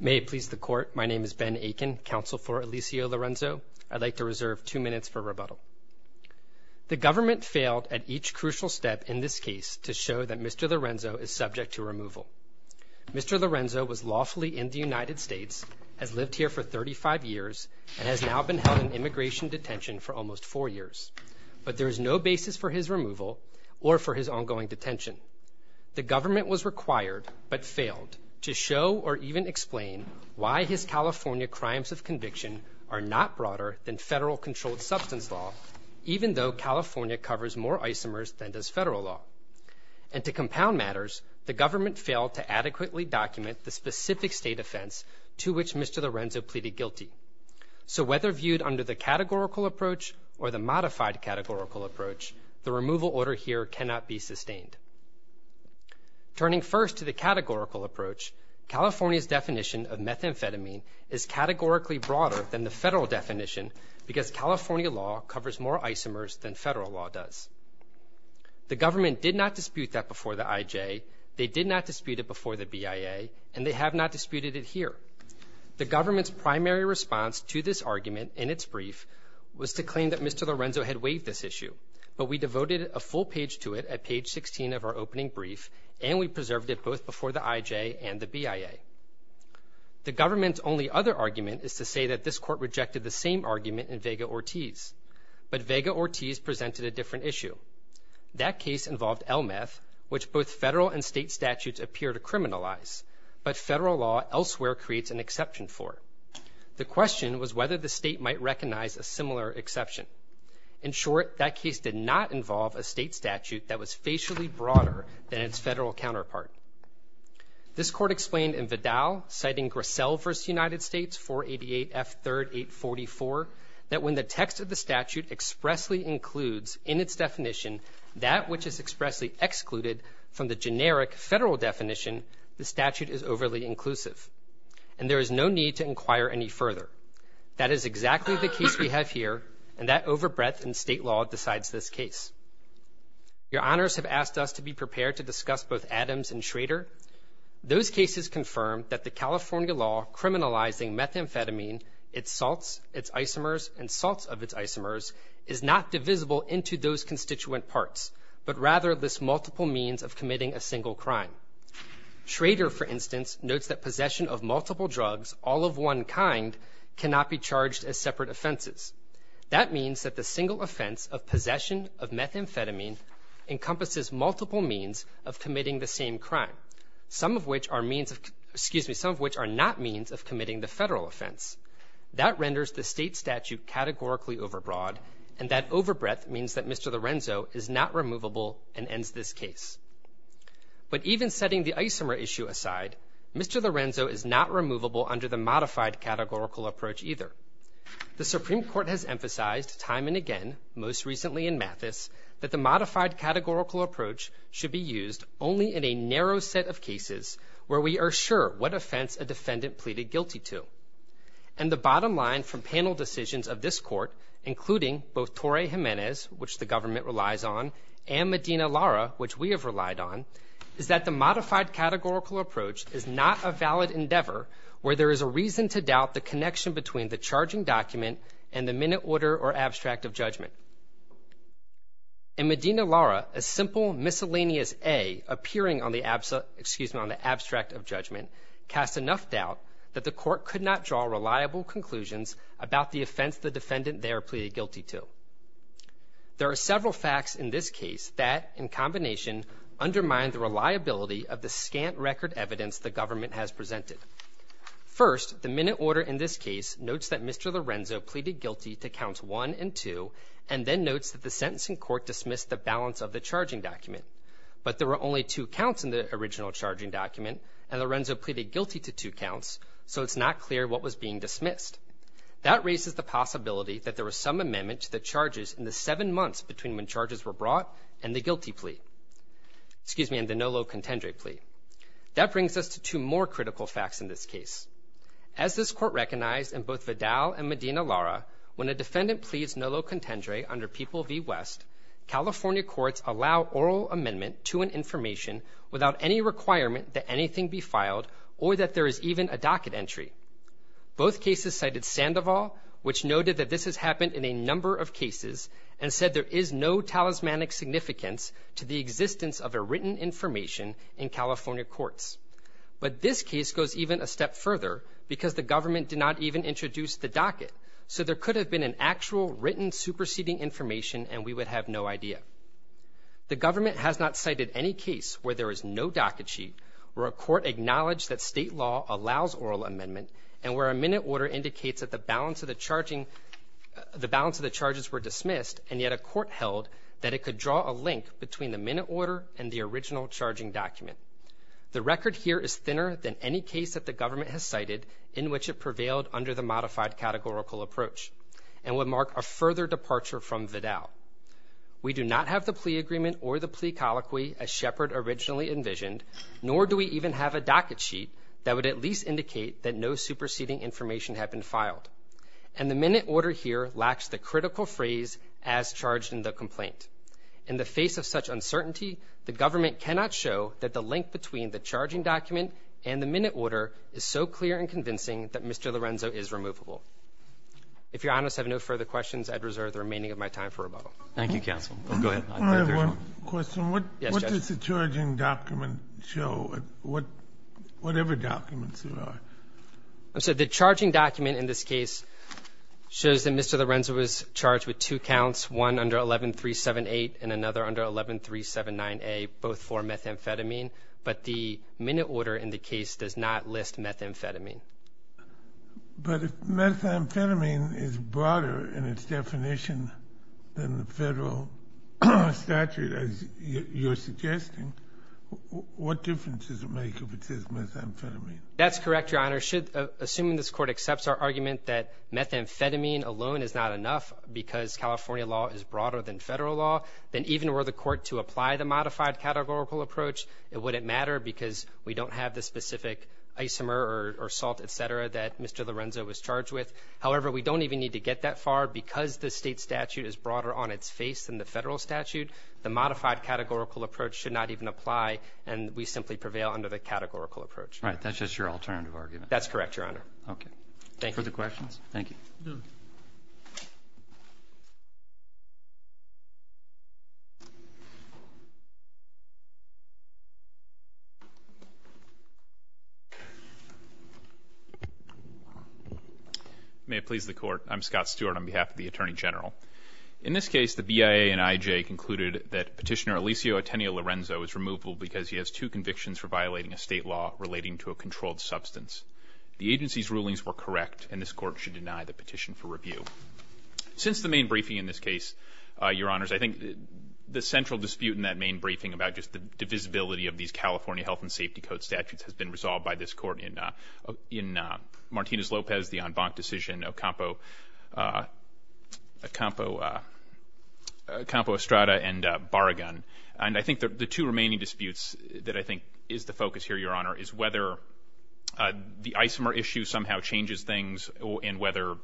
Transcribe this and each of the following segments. May it please the court, my name is Ben Akin, counsel for Alisio Lorenzo. I'd like to reserve two minutes for rebuttal. The government failed at each crucial step in this case to show that Mr. Lorenzo is subject to removal. Mr. Lorenzo was lawfully in the United States, has lived here for 35 years, and has now been held in immigration detention for almost four years. But there is no basis for his removal or for his ongoing detention. The government was required, but failed, to show or even explain why his California crimes of conviction are not broader than federal controlled substance law, even though California covers more isomers than does federal law. And to compound matters, the government failed to adequately document the specific state offense to which Mr. Lorenzo pleaded guilty. So whether viewed under the categorical approach or the modified categorical approach, the removal order here cannot be sustained. Turning first to the categorical approach, California's definition of methamphetamine is categorically broader than the federal definition because California law covers more isomers than federal law does. The government did not dispute that before the IJ, they did not dispute it before the BIA, and they have not disputed it here. The government's primary response to this argument in its brief was to claim that Mr. Lorenzo had waived this issue, but we devoted a full page to it at page 16 of our opening brief, and we preserved it both before the IJ and the BIA. The government's only other argument is to say that this court rejected the same argument in Vega-Ortiz, but Vega-Ortiz presented a different issue. That case involved LMF, which both federal and state statutes appear to criminalize, but federal law elsewhere creates an exception for it. The question was whether the state might recognize a similar exception. In short, that case did not involve a state statute that was facially broader than its federal counterpart. This court explained in Vidal, citing Grassell v. United States 488F3-844, that when the text of the statute expressly includes in its definition that which is expressly excluded from the generic federal definition, the statute is overly inclusive, and there is no need to inquire any further. That is exactly the case we have here, and that overbreadth in state law decides this case. Your honors have asked us to be prepared to discuss both Adams and Schrader. Those cases confirm that the California law criminalizing methamphetamine, its salts, its isomers, and salts of its isomers is not divisible into those constituent parts, but rather lists multiple means of committing a single crime. Schrader, for instance, notes that possession of multiple drugs, all of one kind, cannot be charged as separate offenses. That means that the single offense of possession of methamphetamine encompasses multiple means of committing the same crime, some of which are not means of committing the federal offense. That renders the state statute categorically overbroad, and that overbreadth means that Mr. Lorenzo is not removable and ends this case. But even setting the isomer issue aside, Mr. Lorenzo is not removable under the modified categorical approach either. The Supreme Court has emphasized time and again, most recently in Mathis, that the modified categorical approach should be used only in a narrow set of cases where we are sure what offense a defendant pleaded guilty to. And the bottom line from panel decisions of this court, including both Torrey Jimenez, which the government relies on, and Medina Lara, which we have relied on, is that the modified categorical approach is not a valid endeavor where there is a reason to doubt the connection between the charging document and the minute order or abstract of judgment. In Medina Lara, a simple miscellaneous A appearing on the abstract of judgment casts enough doubt that the court could not draw reliable conclusions about the offense the defendant there pleaded guilty to. There are several facts in this case that, in combination, undermine the reliability of the scant record evidence the government has presented. First, the minute order in this case notes that Mr. Lorenzo pleaded guilty to counts 1 and 2, and then notes that the sentencing court dismissed the balance of the charging document. But there were only two counts in the original charging document, and Lorenzo pleaded guilty to two counts, so it's not clear what was being dismissed. That raises the possibility that there was some amendment to the charges in the seven months between when charges were brought and the guilty plea, excuse me, and the nolo contendere plea. That brings us to two more critical facts in this case. As this court recognized in both Vidal and Medina Lara, when a defendant pleads nolo contendere under People v. West, California courts allow oral amendment to an information without any requirement that anything be filed or that there is even a docket entry. Both cases cited Sandoval, which noted that this has happened in a number of cases, and said there is no talismanic significance to the existence of a written information in California courts. But this case goes even a step further because the government did not even introduce the docket, so there could have been an actual written superseding information and we would have no idea. The government has not cited any case where there is no docket sheet, where a court acknowledged that state law allows oral amendment, and where a minute order indicates that the balance of the charges were dismissed, and yet a court held that it could draw a link between the minute order and the original charging document. The record here is thinner than any case that the government has cited in which it prevailed under the modified categorical approach, and would mark a further departure from Vidal. We do not have the plea agreement or the plea colloquy as Shepard originally envisioned, nor do we even have a docket sheet that would at least indicate that no superseding information had been filed. And the minute order here lacks the critical phrase, as charged in the complaint. In the face of such uncertainty, the government cannot show that the link between the charging document and the minute order is so clear and convincing that Mr. Lorenzo is removable. If Your Honors have no further questions, I'd reserve the remaining of my time for rebuttal. Roberts. Thank you, counsel. Go ahead. I have one question. Yes, Judge. What does the charging document show, whatever documents there are? I'm sorry. The charging document in this case shows that Mr. Lorenzo was charged with two counts, one under 11378 and another under 11379A, both for methamphetamine. But the minute order in the case does not list methamphetamine. But if methamphetamine is broader in its definition than the federal statute, as you're suggesting, what difference does it make if it says methamphetamine? That's correct, Your Honor. Assuming this Court accepts our argument that methamphetamine alone is not enough because California law is broader than federal law, then even were the Court to apply the modified categorical approach, it wouldn't matter because we don't have the specific isomer or salt, et cetera, that Mr. Lorenzo was charged with. However, we don't even need to get that far because the state statute is broader on its face than the federal statute. The modified categorical approach should not even apply, and we simply prevail under the categorical approach. Right. That's just your alternative argument. That's correct, Your Honor. Okay. Further questions? Thank you. No. May it please the Court. I'm Scott Stewart on behalf of the Attorney General. In this case, the BIA and IJ concluded that Petitioner Eliseo Ateneo Lorenzo is removable because he has two convictions for violating a state law relating to a controlled substance. The agency's rulings were correct, and this Court should deny the petition for review. Since the main briefing in this case, Your Honors, I think the central dispute in that main briefing about just the divisibility of these California health and safety code statutes has been resolved by this Court in Martinez-Lopez, the en banc decision, Ocampo-Estrada, and Barragan. And I think the two remaining disputes that I think is the focus here, Your Honor, is whether the isomer issue somehow changes things and whether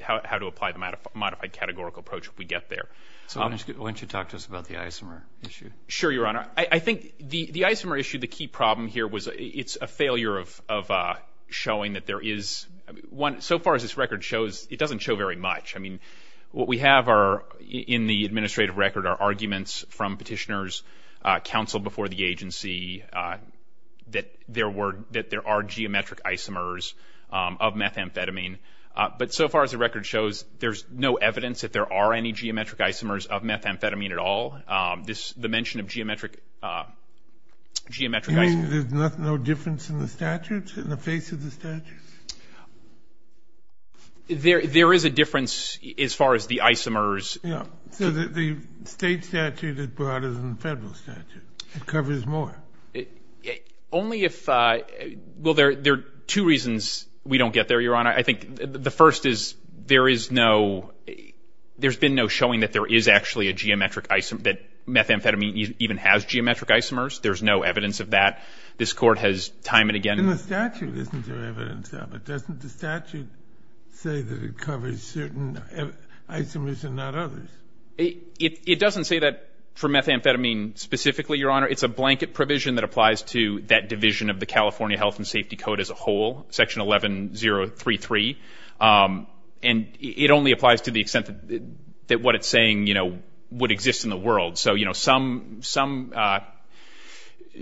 how to apply the modified categorical approach if we get there. So why don't you talk to us about the isomer issue? Sure, Your Honor. I think the isomer issue, the key problem here was it's a failure of showing that there is one. So far as this record shows, it doesn't show very much. I mean, what we have in the administrative record are arguments from Petitioner's counsel before the agency that there are geometric isomers of methamphetamine. But so far as the record shows, there's no evidence that there are any geometric isomers of methamphetamine at all. The mention of geometric isomers. You mean there's no difference in the statutes, in the face of the statutes? There is a difference as far as the isomers. Yeah. So the state statute is broader than the federal statute. It covers more. Only if — well, there are two reasons we don't get there, Your Honor. I think the first is there is no — there's been no showing that there is actually a geometric isomer, that methamphetamine even has geometric isomers. There's no evidence of that. This Court has time and again — In the statute, isn't there evidence of it? Doesn't the statute say that it covers certain isomers and not others? It doesn't say that for methamphetamine specifically, Your Honor. It's a blanket provision that applies to that division of the California Health and Safety Code as a whole, Section 11033. And it only applies to the extent that what it's saying, you know, would exist in the world. So, you know, some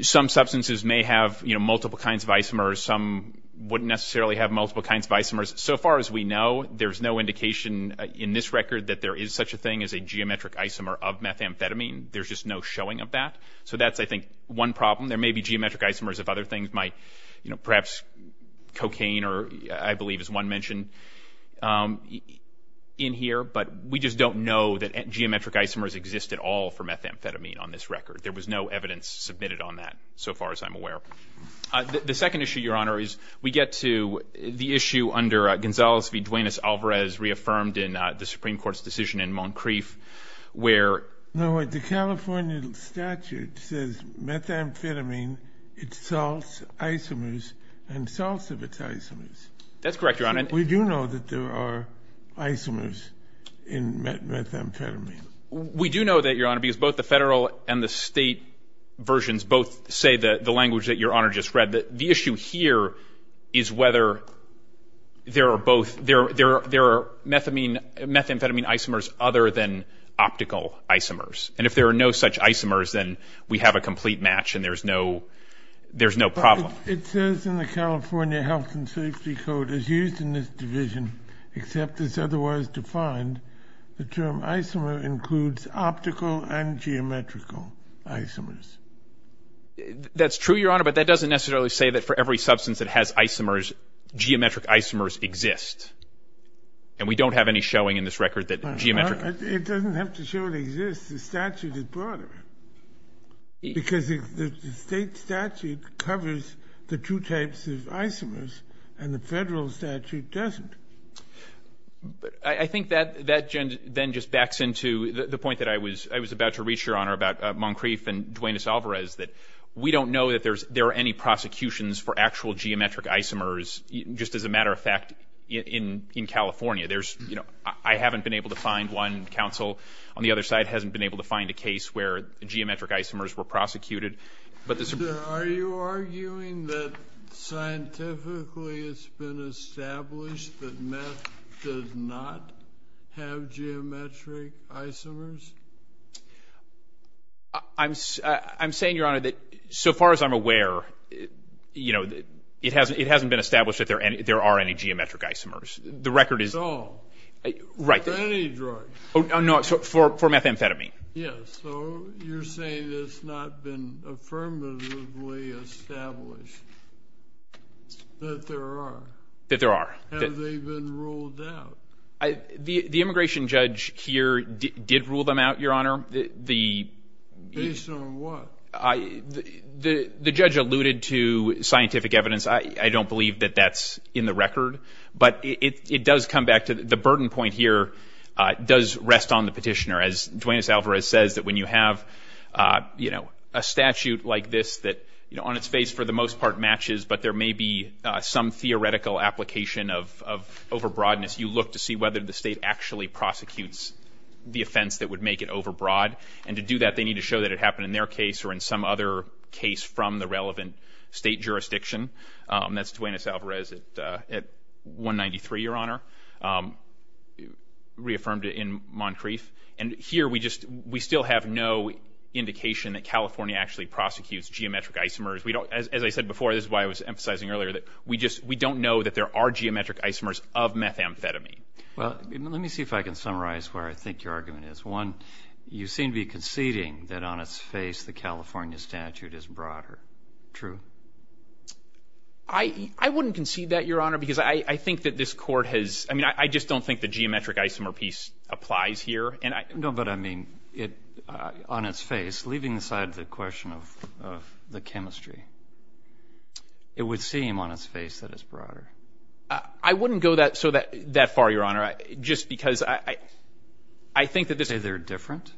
substances may have, you know, multiple kinds of isomers. Some wouldn't necessarily have multiple kinds of isomers. So far as we know, there's no indication in this record that there is such a thing as a geometric isomer of methamphetamine. There's just no showing of that. So that's, I think, one problem. There may be geometric isomers of other things, you know, perhaps cocaine or, I believe, as one mentioned in here. But we just don't know that geometric isomers exist at all for methamphetamine on this record. There was no evidence submitted on that so far as I'm aware. The second issue, Your Honor, is we get to the issue under Gonzales v. Duenas-Alvarez, reaffirmed in the Supreme Court's decision in Moncrief, where the California statute says methamphetamine, it's salts, isomers, and salts of its isomers. That's correct, Your Honor. We do know that there are isomers in methamphetamine. We do know that, Your Honor, because both the federal and the state versions both say the language that Your Honor just read. The issue here is whether there are both, there are methamphetamine isomers other than optical isomers. And if there are no such isomers, then we have a complete match and there's no problem. It says in the California Health and Safety Code, as used in this division, except it's otherwise defined, the term isomer includes optical and geometrical isomers. That's true, Your Honor, but that doesn't necessarily say that for every substance that has isomers, geometric isomers exist. And we don't have any showing in this record that geometric... It doesn't have to show it exists. The statute is broader because the state statute covers the two types of isomers and the federal statute doesn't. But I think that then just backs into the point that I was about to reach, Your Honor, about Moncrief and Duanis Alvarez, that we don't know that there are any prosecutions for actual geometric isomers, just as a matter of fact, in California. There's, you know, I haven't been able to find one. Counsel on the other side hasn't been able to find a case where geometric isomers were prosecuted. Are you arguing that scientifically it's been established that meth does not have geometric isomers? I'm saying, Your Honor, that so far as I'm aware, you know, it hasn't been established that there are any geometric isomers. That's all. Right. For any drug. No, for methamphetamine. Yes. So you're saying it's not been affirmatively established that there are? That there are. Have they been ruled out? The immigration judge here did rule them out, Your Honor. Based on what? The judge alluded to scientific evidence. I don't believe that that's in the record. But it does come back to the burden point here does rest on the petitioner. As Duanis Alvarez says, that when you have, you know, a statute like this that, you know, on its face for the most part matches, but there may be some theoretical application of overbroadness, you look to see whether the state actually prosecutes the offense that would make it overbroad. And to do that, they need to show that it happened in their case or in some other case from the relevant state jurisdiction. That's Duanis Alvarez at 193, Your Honor, reaffirmed in Moncrief. And here we just, we still have no indication that California actually prosecutes geometric isomers. We don't, as I said before, this is why I was emphasizing earlier, that we just, we don't know that there are geometric isomers of methamphetamine. Well, let me see if I can summarize where I think your argument is. One, you seem to be conceding that on its face the California statute is broader. True? I wouldn't concede that, Your Honor, because I think that this court has, I mean, I just don't think the geometric isomer piece applies here. No, but I mean, on its face, leaving aside the question of the chemistry, it would seem on its face that it's broader. I wouldn't go that far, Your Honor, just because I think that this is. Do you say they're different,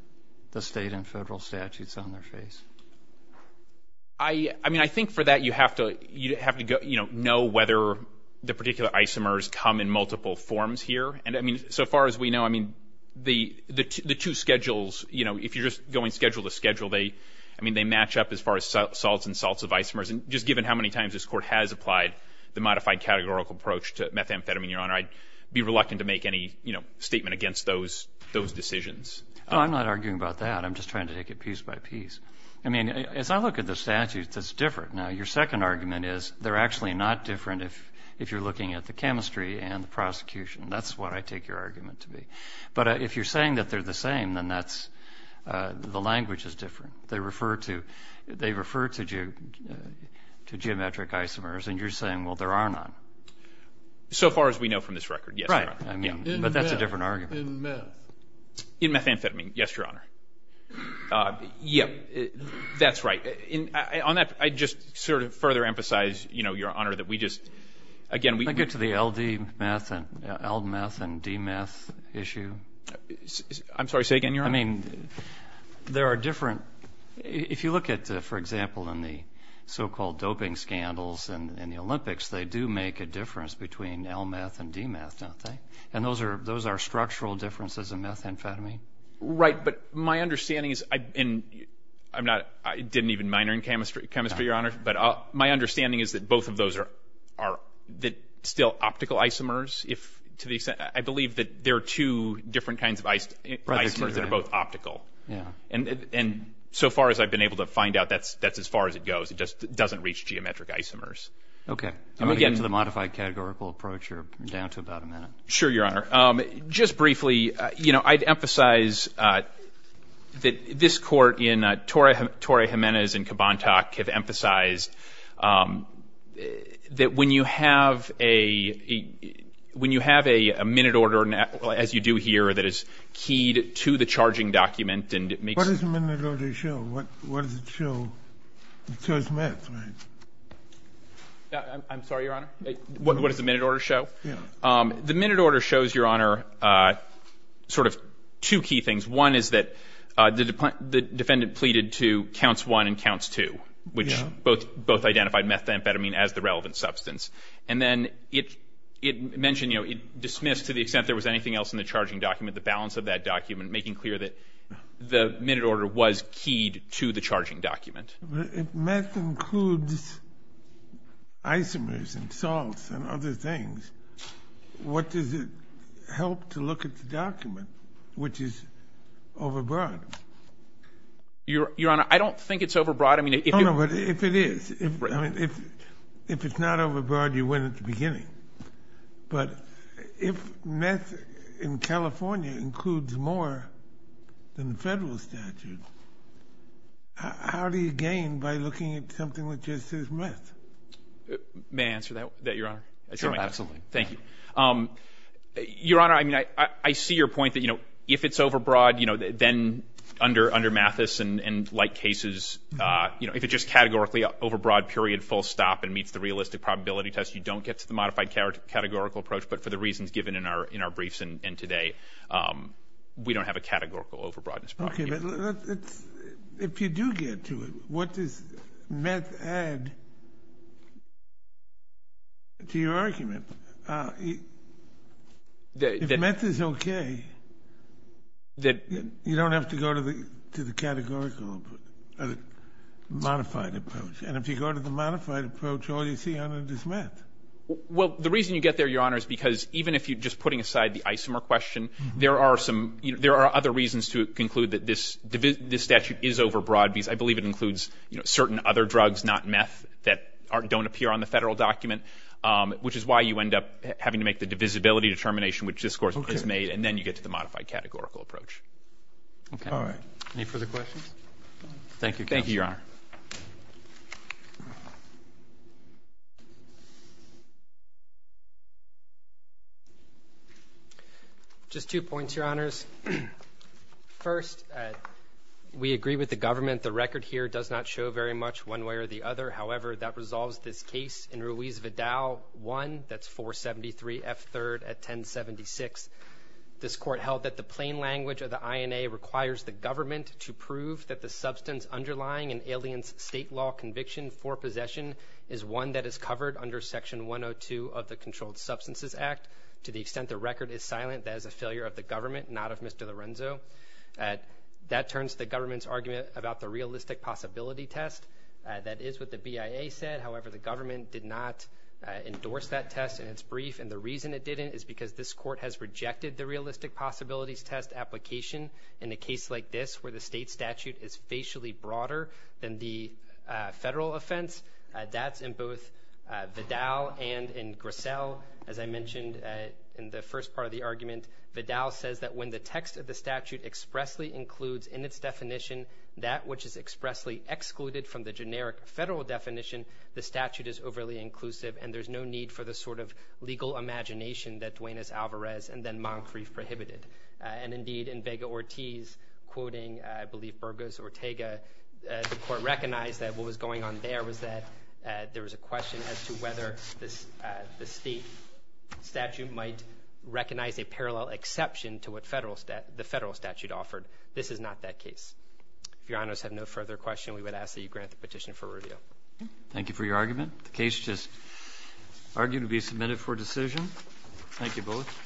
the state and federal statutes on their face? I mean, I think for that you have to go, you know, know whether the particular isomers come in multiple forms here. And, I mean, so far as we know, I mean, the two schedules, you know, if you're just going schedule to schedule, they, I mean, they match up as far as salts and salts of isomers. And just given how many times this court has applied the modified categorical approach to methamphetamine, Your Honor, I'd be reluctant to make any, you know, statement against those decisions. No, I'm not arguing about that. I'm just trying to take it piece by piece. I mean, as I look at the statutes, it's different. Now, your second argument is they're actually not different if you're looking at the chemistry and the prosecution. That's what I take your argument to be. But if you're saying that they're the same, then that's the language is different. They refer to geometric isomers, and you're saying, well, there are none. So far as we know from this record, yes, Your Honor. Right. But that's a different argument. In meth? In methamphetamine, yes, Your Honor. Yes, that's right. On that, I'd just sort of further emphasize, you know, Your Honor, that we just, again, we Can I get to the LD meth and LD meth and DMeth issue? I'm sorry, say again, Your Honor. I mean, there are different, if you look at, for example, in the so-called doping scandals in the Olympics, they do make a difference between LD meth and DMeth, don't they? And those are structural differences in methamphetamine. Right. But my understanding is, and I'm not, I didn't even minor in chemistry, Your Honor, but my understanding is that both of those are still optical isomers. I believe that there are two different kinds of isomers that are both optical. Yeah. And so far as I've been able to find out, that's as far as it goes. It just doesn't reach geometric isomers. Okay. I'm going to get to the modified categorical approach. You're down to about a minute. Sure, Your Honor. Just briefly, you know, I'd emphasize that this Court, in Torrey Jimenez and Kabontak, have emphasized that when you have a minute order, as you do here, that is keyed to the charging document and it makes What does a minute order show? What does it show? It shows meth, right? I'm sorry, Your Honor. What does the minute order show? The minute order shows, Your Honor, sort of two key things. One is that the defendant pleaded to counts one and counts two, which both identified methamphetamine as the relevant substance. And then it mentioned, you know, it dismissed to the extent there was anything else in the charging document, the balance of that document, making clear that the minute order was keyed to the charging document. If meth includes isomers and salts and other things, what does it help to look at the document, which is overbroad? Your Honor, I don't think it's overbroad. Oh, no, but if it is, if it's not overbroad, you win at the beginning. But if meth in California includes more than the federal statute, how do you gain by looking at something which is just meth? May I answer that, Your Honor? Sure, absolutely. Thank you. Your Honor, I mean, I see your point that, you know, if it's overbroad, you know, then under Mathis and like cases, you know, if it's just categorically overbroad, period, full stop, and meets the realistic probability test, you don't get to the modified categorical approach. But for the reasons given in our briefs and today, we don't have a categorical overbroadness. Okay, but if you do get to it, what does meth add to your argument? If meth is okay, you don't have to go to the categorical modified approach. And if you go to the modified approach, all you see on it is meth. Well, the reason you get there, Your Honor, is because even if you're just putting aside the isomer question, there are some, you know, there are other reasons to conclude that this statute is overbroad because I believe it includes certain other drugs, not meth, that don't appear on the Federal document, which is why you end up having to make the divisibility determination, which this Court has made, and then you get to the modified categorical approach. Okay. All right. Any further questions? Thank you, Counsel. Thank you, Your Honor. Just two points, Your Honors. First, we agree with the government. The record here does not show very much one way or the other. However, that resolves this case in Ruiz-Vidal 1, that's 473 F. 3rd at 1076. This Court held that the plain language of the INA requires the government is not an alien substance. state law conviction for possession is one that is covered under Section 102 of the Controlled Substances Act. To the extent the record is silent, that is a failure of the government, not of Mr. Lorenzo. That turns the government's argument about the realistic possibility test. That is what the BIA said. However, the government did not endorse that test in its brief, and the reason it didn't is because this Court has rejected the realistic possibilities test application in a case like this, where the state statute is facially broader than the federal offense. That's in both Vidal and in Grissel. As I mentioned in the first part of the argument, Vidal says that when the text of the statute expressly includes in its definition that which is expressly excluded from the generic federal definition, the statute is overly inclusive, and there's no need for the sort of legal imagination that Duane Alvarez and then Moncrief prohibited. And indeed, in Vega-Ortiz, quoting I believe Burgos Ortega, the Court recognized that what was going on there was that there was a question as to whether the state statute might recognize a parallel exception to what the federal statute offered. This is not that case. If Your Honors have no further questions, we would ask that you grant the petition for review. Thank you for your argument. The case is argued to be submitted for decision. Thank you both.